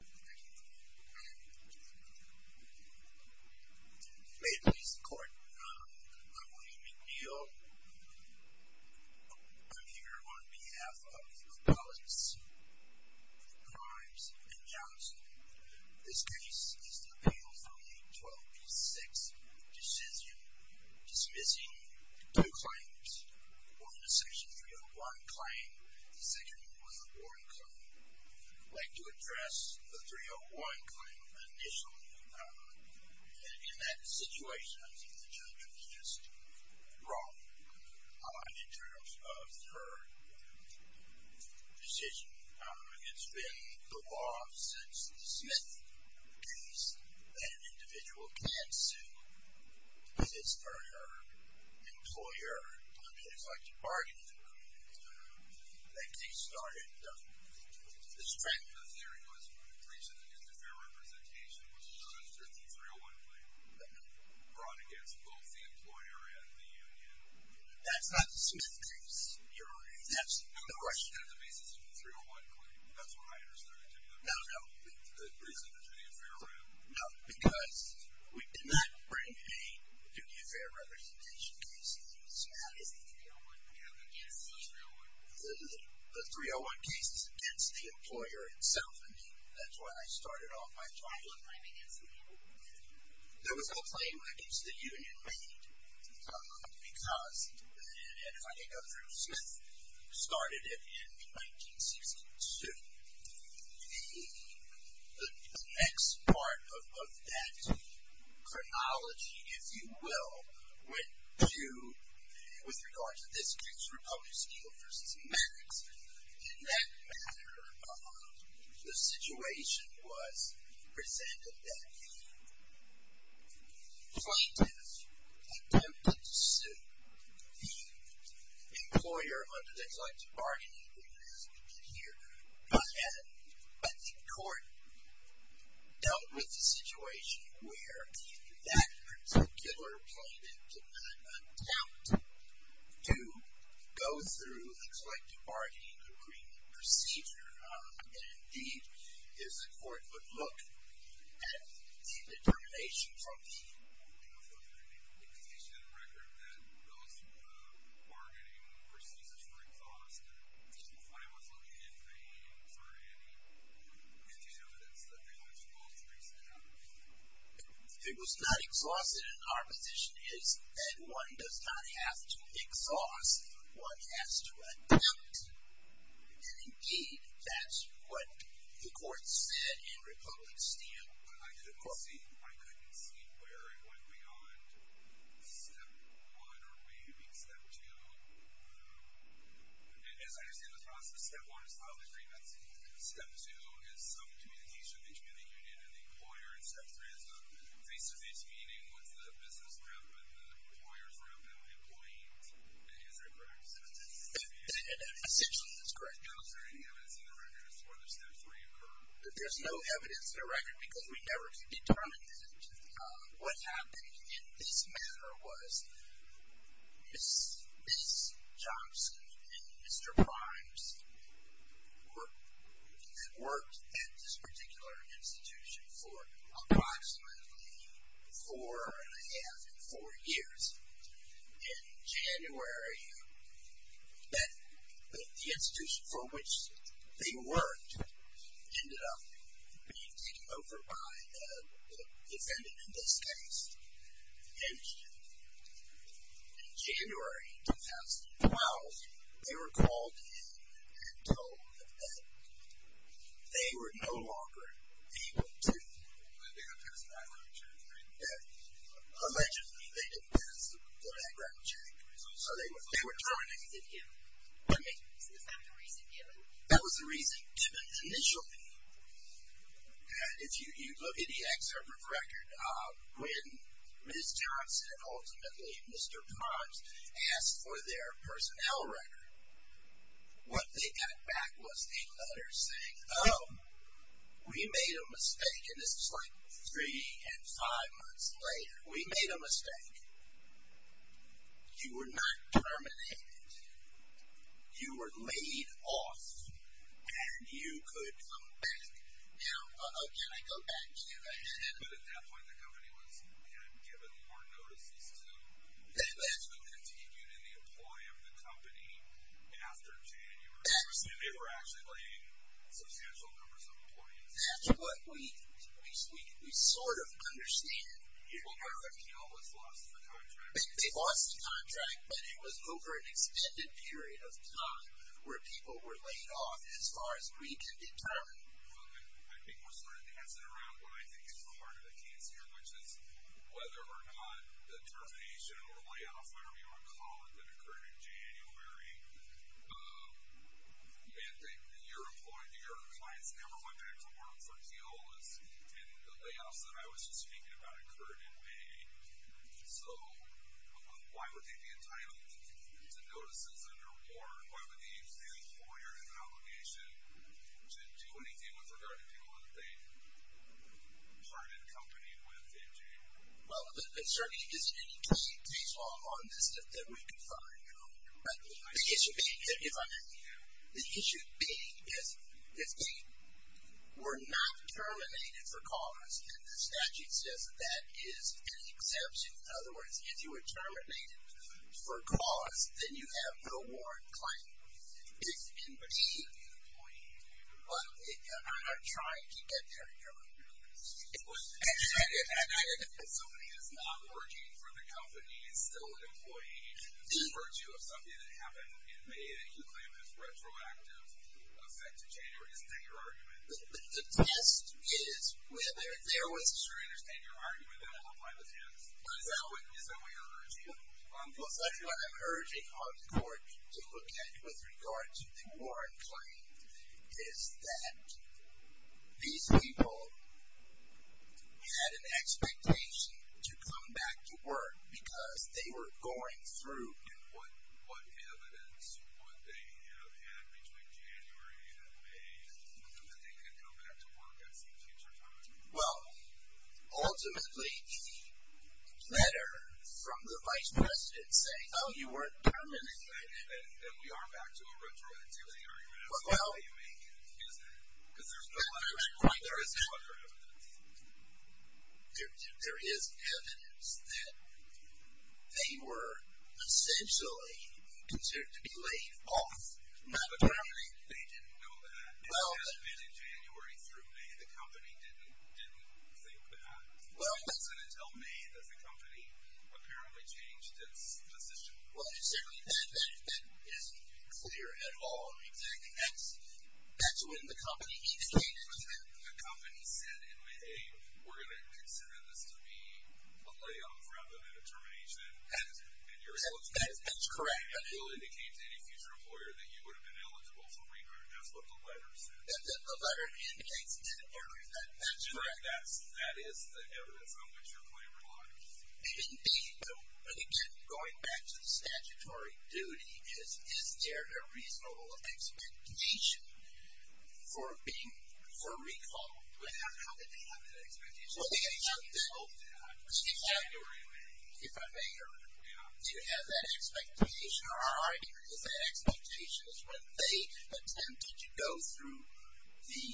May it please the court, I'm William McNeil. I'm here on behalf of Keolis, Grimes, and Johnson. This case is the appeal from the 12 v. 6 decision dismissing two claims. One, the Section 301 claim, the Section 401 claim. I'd like to address the 301 claim initially. In that situation, I think the judge was just wrong. In terms of her decision, it's been the law since the Smith case that an individual can sue if it's for her employer. I mean, it's like your bargaining agreement. I think they started this trend. The theory was that a breach of the duty of fair representation was registered in the 301 claim. No. Brought against both the employer and the union. That's not the Smith case. That's not the basis of the 301 claim. That's what I understood it to be though. No, no. A breach of the duty of fair rep. No, because we did not bring a duty of fair representation case in the Smith case. The 301 case is against the employer itself. That's why I started off my trial. There was no claim against the union. There was no claim against the union made because, and if I can go through, Smith started it in 1962. The next part of that chronology, if you will, went to, with regard to this case, Republican Steel v. Maddox. In that matter, the situation was presented that the plaintiff attempted to sue the employer under the collective bargaining agreement as we can hear. But the court dealt with the situation where that particular plaintiff did not attempt to go through the collective bargaining agreement procedure. And indeed, as the court would look at the determination from the indication in the record that those bargaining procedures were exhausted, I was looking in vain for any evidence that the plaintiff falsely stood out. It was not exhausted, and our position is that one does not have to exhaust if one has to run out. And indeed, that's what the court said in Republican Steel v. Maddox. But I couldn't see where it went beyond Step 1 or maybe Step 2. And as I understand the process, Step 1 is filing the grievance, and Step 2 is some communication between the union and the employer, and Step 3 is a face-to-face meeting with the business group and the employers around them, the employees, and is that correct? Essentially, that's correct. Is there any evidence in the record as to whether Step 3 occurred? There's no evidence in the record because we never determined that. What happened in this matter was Ms. Johnson and Mr. Primes worked at this particular institution for approximately four and a half to four years. In January, the institution from which they worked ended up being taken over by the defendant in this case. And in January 2012, they were called in and told that they were no longer able to Allegedly, they didn't pass the background check, so they were terminated. Is that the reason given? That was the reason given initially. If you look at the excerpt from the record, when Ms. Johnson and ultimately Mr. Primes asked for their personnel record, what they got back was a letter saying, We made a mistake, and this was like three and five months later. We made a mistake. You were not terminated. You were laid off, and you could come back. Now, can I go back to that? But at that point, the company was given more notices to continue to employ the company after January. They were actually laying substantial numbers of employees. That's what we sort of understand. The company almost lost the contract. They lost the contract, but it was over an extended period of time where people were laid off, as far as we can determine. I think we're sort of dancing around what I think is the heart of the case here, which is whether or not the termination or layoff, whatever you want to call it, that occurred in January meant that your employees, your clients, never went back to work for Keola's, and the layoffs that I was just speaking about occurred in May. So why would they be entitled to notices underwater, and why would they use the employer's obligation to do anything with regard to people that they weren't in company with in January? Well, certainly there's any case law on this that we can find. The issue being that if they were not terminated for cause, and the statute says that that is an exception. In other words, if you were terminated for cause, then you have no warrant claim. It's in between an employee and a client. I'm trying to get there here. If somebody is not working for the company and is still an employee, is it the virtue of something that happened in May that you claim has retroactive effect to January? Isn't that your argument? The test is whether there was. Sure, I understand your argument. Then I'll apply the test. Is that what you're urging? Well, certainly what I'm urging on the court to look at with regard to the warrant claim is that these people had an expectation to come back to work because they were going through. And what evidence would they have had between January and May that they could come back to work at some future time? Well, ultimately, the letter from the vice president saying, oh, you weren't terminated. And we are back to a retroactivity argument. That's the way you make it. Because there's no other evidence. There is evidence that they were essentially considered to be laid off, not terminated. They didn't know that. It has been in January through May. The company didn't think that. Well, that's going to tell me that the company apparently changed its position. Well, certainly that isn't clear at all. Exactly. That's when the company came in. The company said in May, hey, we're going to consider this to be a layoff rather than a termination. That's correct. It will indicate to any future employer that you would have been eligible for labor. That's what the letter says. The letter indicates that area. That's correct. That is the evidence on which your claim applies. Indeed. But again, going back to the statutory duty, is there a reasonable expectation for recall? How did they have that expectation? January and May. If I may, do you have that expectation? Our argument is the expectation is when they attempted to go through the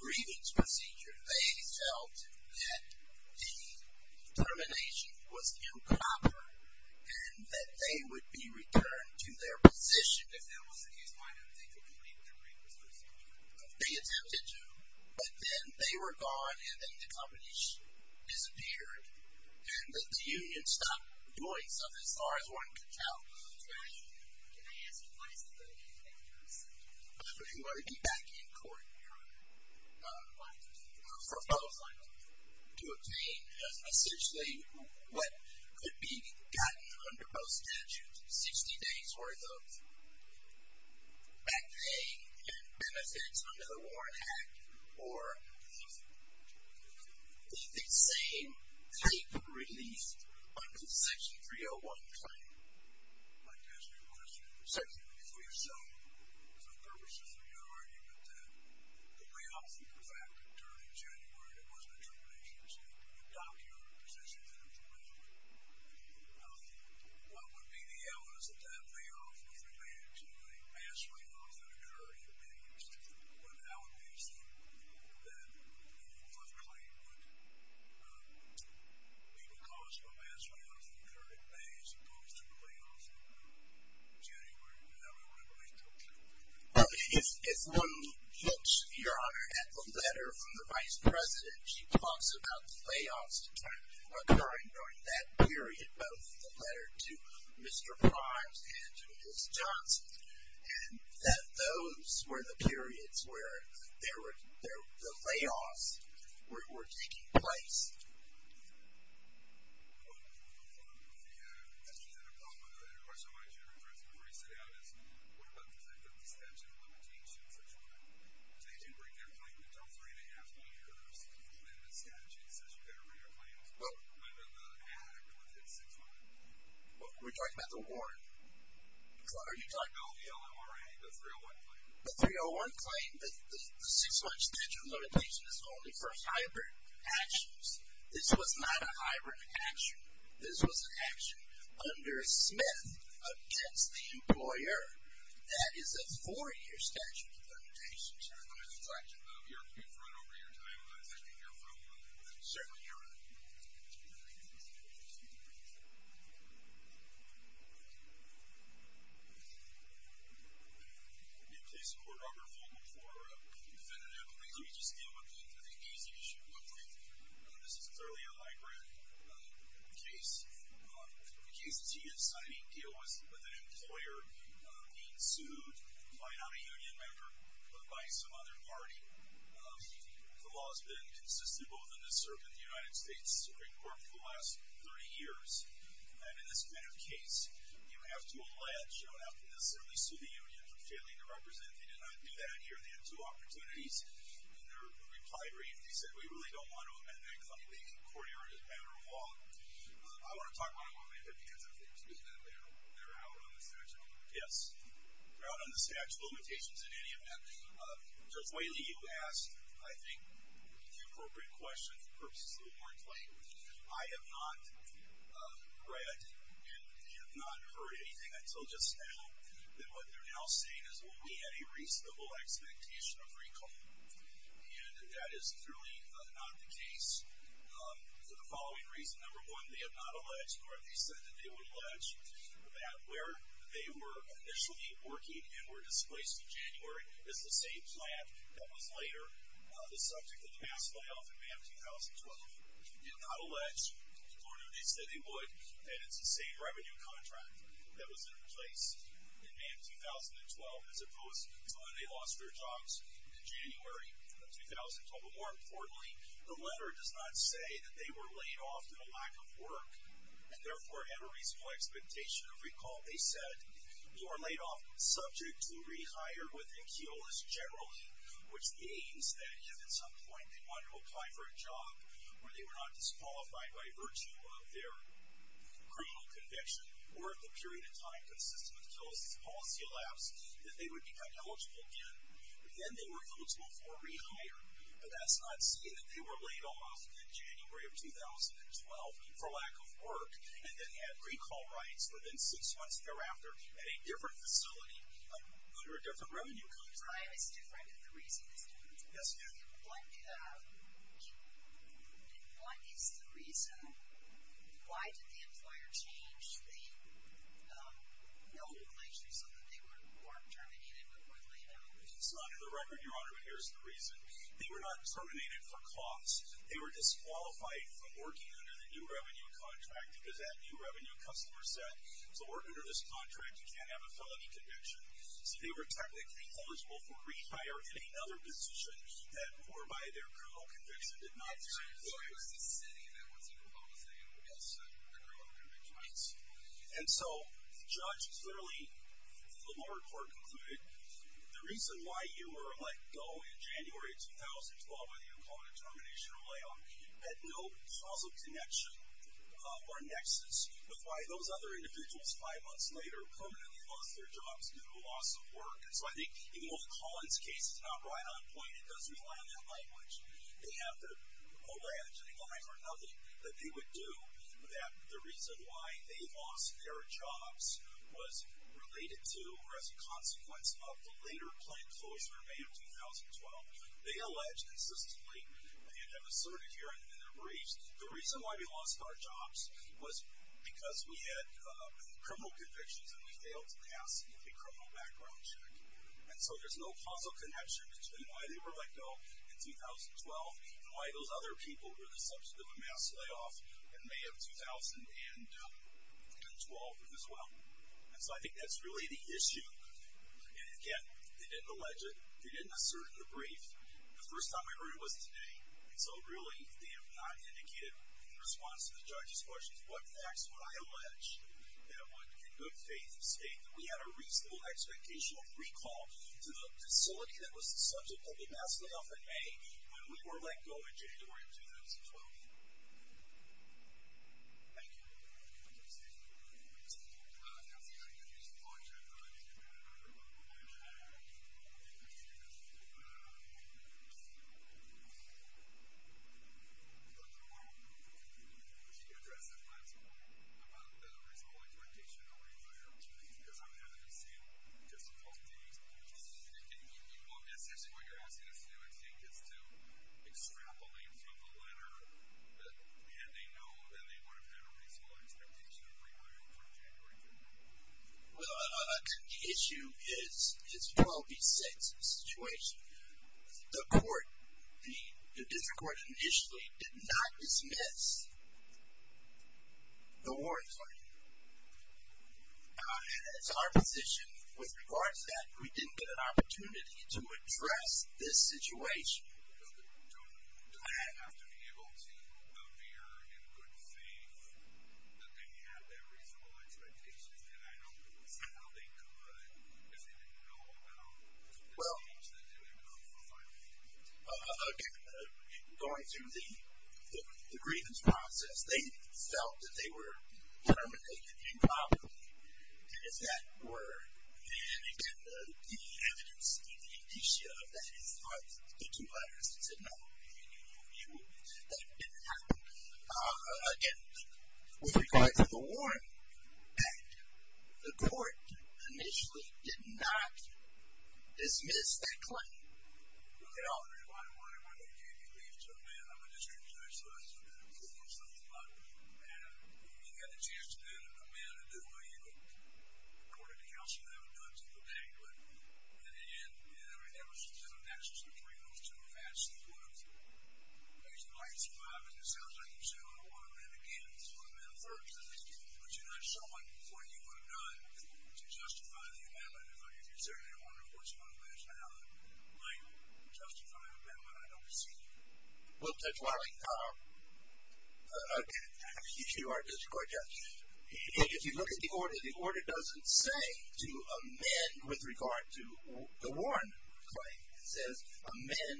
grievance procedure, they felt that the termination was improper and that they would be returned to their position. If that was the case, why didn't they complete their grievance procedure? They attempted to, but then they were gone, and then the company disappeared, and that the union stopped doing something as far as one could tell. Can I ask you, what is the burden of bankruptcy? You are to be back in court for both. To obtain essentially what could be gotten under both statutes, 60 days worth of back pay and benefits under the Warrant Act, or the same type of relief under Section 301 of the claim. I'd like to ask you a question. Certainly. For yourself, for the purposes of your argument, that the layoff that occurred during January that wasn't a termination, so you adopted a position that was reasonable, what would be the evidence that that layoff was related to a past layoff that occurred in May? I would assume that the first claim would be because of a past layoff that occurred in May as opposed to the layoff that occurred in January, and that would be what I'm looking for. If one looks, Your Honor, at the letter from the Vice President, she talks about layoffs occurring during that period, both the letter to Mr. Primes and to Ms. Johnson, and that those were the periods where the layoffs were taking place. Well, the question I wanted you to address before you sit down is, what about the statute of limitations, 6-1? They didn't bring their claim until three and a half years, and then the statute says you better bring your claim when the hack would hit 6-1. We're talking about the Warrant. Are you talking about the LMRA, the 301 claim? The 301 claim. The 6-1 statute of limitations is only for hybrid actions. This was not a hybrid action. This was an action under Smith against the employer. That is a four-year statute of limitations. Your Honor, I'm going to distract you, but if you're going to run over your time, I'd like to hear from you. Certainly, Your Honor. May it please the Court, Robert Vogel for a definitive plea. Let me just deal with the case issue real quick. This is clearly a hybrid case. The case that you're signing deals with an employer being sued by not a union member but by some other party. The law has been consistent both in this circuit and the United States Supreme Court for the last 30 years. And in this kind of case, you have to allege, you don't have to necessarily sue the union for failing to represent. They did not do that here. They had two opportunities. In their reply brief, they said, we really don't want to amend that claim. The Court heard it as a matter of law. I want to talk about it one minute, because if they do that, they're out on the statute of limitations. Yes. They're out on the statute of limitations in any event. Judge Whaley, you asked, I think, the appropriate question for purposes of the Warrant Claim. I have not read and have not heard anything until just now that what they're now saying is, well, we had a reasonable expectation of recall. And that is clearly not the case for the following reasons. Number one, they have not alleged or they said that they would allege that where they were initially working and were displaced in January is the same plant that was later the subject of the past layoff in May of 2012. They did not allege or they said they would that it's the same revenue contract that was in place in May of 2012 as opposed to when they lost their jobs in January of 2012. But more importantly, the letter does not say that they were laid off in a lack of work and therefore had a reasonable expectation of recall. They said, you were laid off subject to rehire within Kiolis generally, which means that if at some point they wanted to apply for a job where they were not disqualified by virtue of their criminal conviction or if the period of time consistent with Kiolis' policy elapsed, that they would become eligible again. Then they were eligible for rehire. But that's not saying that they were laid off in January of 2012 for lack of work and then had recall rights within six months thereafter at a different facility under a different revenue contract. So the time is different and the reason is different? Yes, ma'am. And what is the reason? Why did the employer change the notification so that they weren't terminated but were laid off? It's not in the record, Your Honor, but here's the reason. They were not terminated for cost. They were disqualified from working under the new revenue contract because that new revenue customer said, so work under this contract, you can't have a felony conviction. So they were technically eligible for rehire in another position whereby their criminal conviction did not exist. So it was the city that was in the policy that was the criminal conviction? Right. And so the judge clearly, the lower court concluded, the reason why you were let go in January 2012, whether you called it termination or layoff, had no causal connection or nexus with why those other individuals five months later permanently lost their jobs due to loss of work. And so I think even though the Collins case is not right on point, it does rely on that language. They have the alleging line for nothing that they would do that the reason why they lost their jobs was related to or as a consequence of the later plan closure in May of 2012. They allege consistently, and I've asserted here in the briefs, the reason why we lost our jobs was because we had criminal convictions and we failed to pass a criminal background check. And so there's no causal connection between why they were let go in 2012 and why those other people were the subject of a mass layoff in May of 2012 as well. And so I think that's really the issue. And again, they didn't allege it. They didn't assert it in the brief. The first time I heard it was today. And so really they have not indicated in response to the judge's questions what facts would I allege that would in good faith state that we had a reasonable expectation of recall to the facility that was the subject of the mass layoff in May when we were let go in January of 2012. Thank you. Yes. I'm going to use the launchpad. I don't know if you can do that. I don't know if you can see this. I thought you were going to address this last point about the reasonable expectation of a re-hire because I'm having a scene just a couple of days. You want this? I see what you're asking us to do. I see it gets to extrapolate from the letter that they know that they would have had a reasonable expectation of a re-hire in January of 2012. Well, the issue is 12B6, the situation. The court, the district court initially did not dismiss the warrant. It's our position with regards to that we didn't get an opportunity to address this situation. Do I have to be able to appear in good faith that they had that reasonable expectation? And I don't think we saw how they could because they didn't know about the things that did occur. Again, going through the grievance process, they felt that they were terminated improperly. It's that word. And again, the evidence, the indicia of that is in the two letters. It said, no, that didn't happen. Again, with regards to the warrant, the court initially did not dismiss that claim. Why am I going to give you leave to a man? I'm a district judge, so that's something I'm cool with. You had a chance to do that with a man, but you didn't know what you were going to do. According to counsel, that was done to the bank. And there was an access to the privilege to amass these words. Based upon your survival, it sounds like you said, I don't want a man again. I want a man first. But you're not showing what you would have done to justify the amendment. If you're saying, I wonder what's going to last, and how that might justify an amendment, I don't see you. Well, Judge Wiley, you are a district court judge. If you look at the order, the order doesn't say to amend with regard to the warrant claim. It says amend.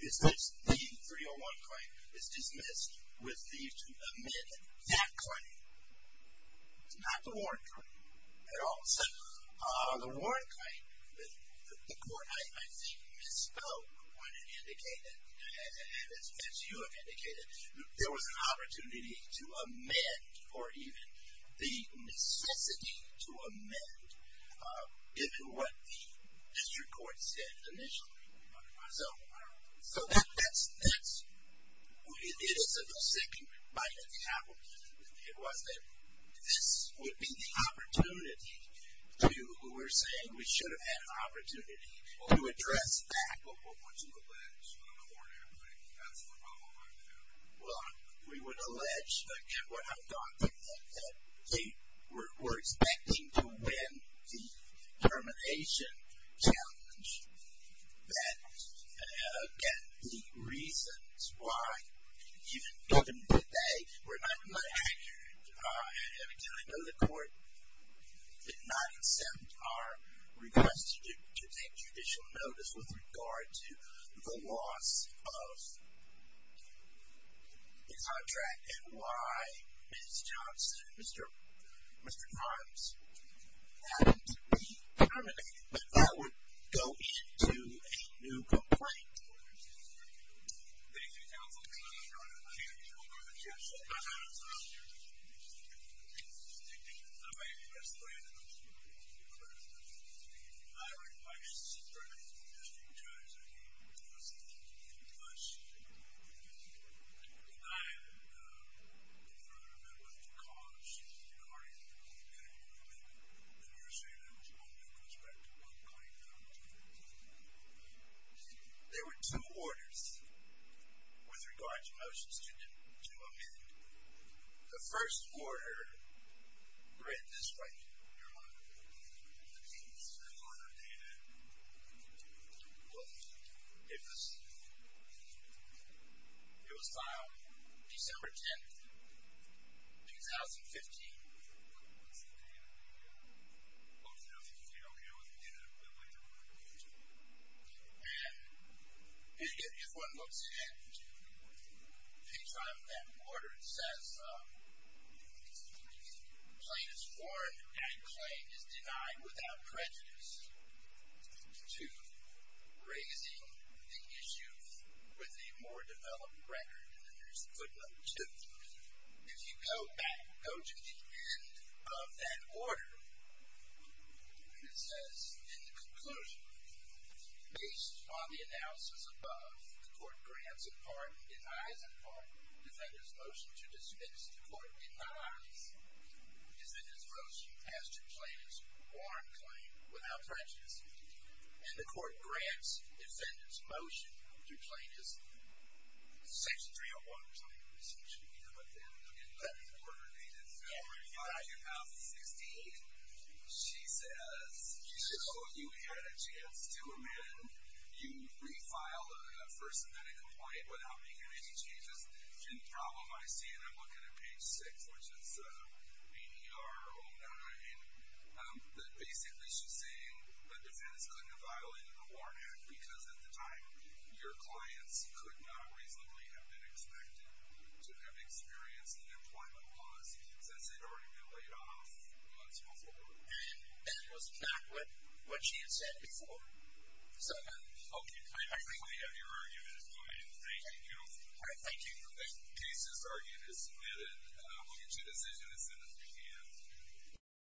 It says the 301 claim is dismissed with leave to amend that claim. It's not the warrant claim at all. So the warrant claim, the court, I think, misspoke when it indicated, as you have indicated, there was an opportunity to amend, or even the necessity to amend, given what the district court said initially. So that's, it is a forsaken right of the applicant. It was that this would be the opportunity to, we're saying we should have had an opportunity to address that. Well, what would you allege on the warrant claim? That's the problem right there. Well, we would allege, again, what I've got, that they were expecting to win the termination challenge. That, again, the reasons why, given that they were not accurate, and again, I know the court did not issue a judicial notice with regard to the loss of the contract and why Ms. Johnson, Mr. Grimes, hadn't been terminated. But that would go into a new complaint. Thank you, counsel. I'm going to change over to the chancellor. I'm going to talk to you. I might have misread it. I request that Mr. Grimes, I think, was denied the further amendment because, regarding the committee ruling that you were saying there was one new contract, there were two orders with regard to motions to amend. The first order read this way, your Honor. Please. It was filed December 10, 2015. Okay. And if one looks at page five of that order, it says the plaintiff's warrant and claim is denied without prejudice to raising the issue with a more developed record. And then there's footnote two. If you go back, go to the end of that order, it says in the conclusion, based on the analysis above, the court grants a pardon, denies a pardon. Defender's motion to dismiss the court denies. Defender's motion has to claim his warrant claim without prejudice. And the court grants defender's motion to claim his section 301 claim Okay. Order dated February 5, 2016. She says you had a chance to amend. You refiled a first amendment complaint without making any changes. The problem I see, and I'm looking at page six, which is ADR 09, that basically she's saying the defense couldn't have violated the warrant act because, at the time, your clients could not reasonably have been expected to have experienced an employment loss since they'd already been laid off months before. And that was not what she had said before? Okay. I think we have your argument. Go ahead. Thank you. All right. Thank you. The case's argument is submitted. We'll get you a decision as soon as we can.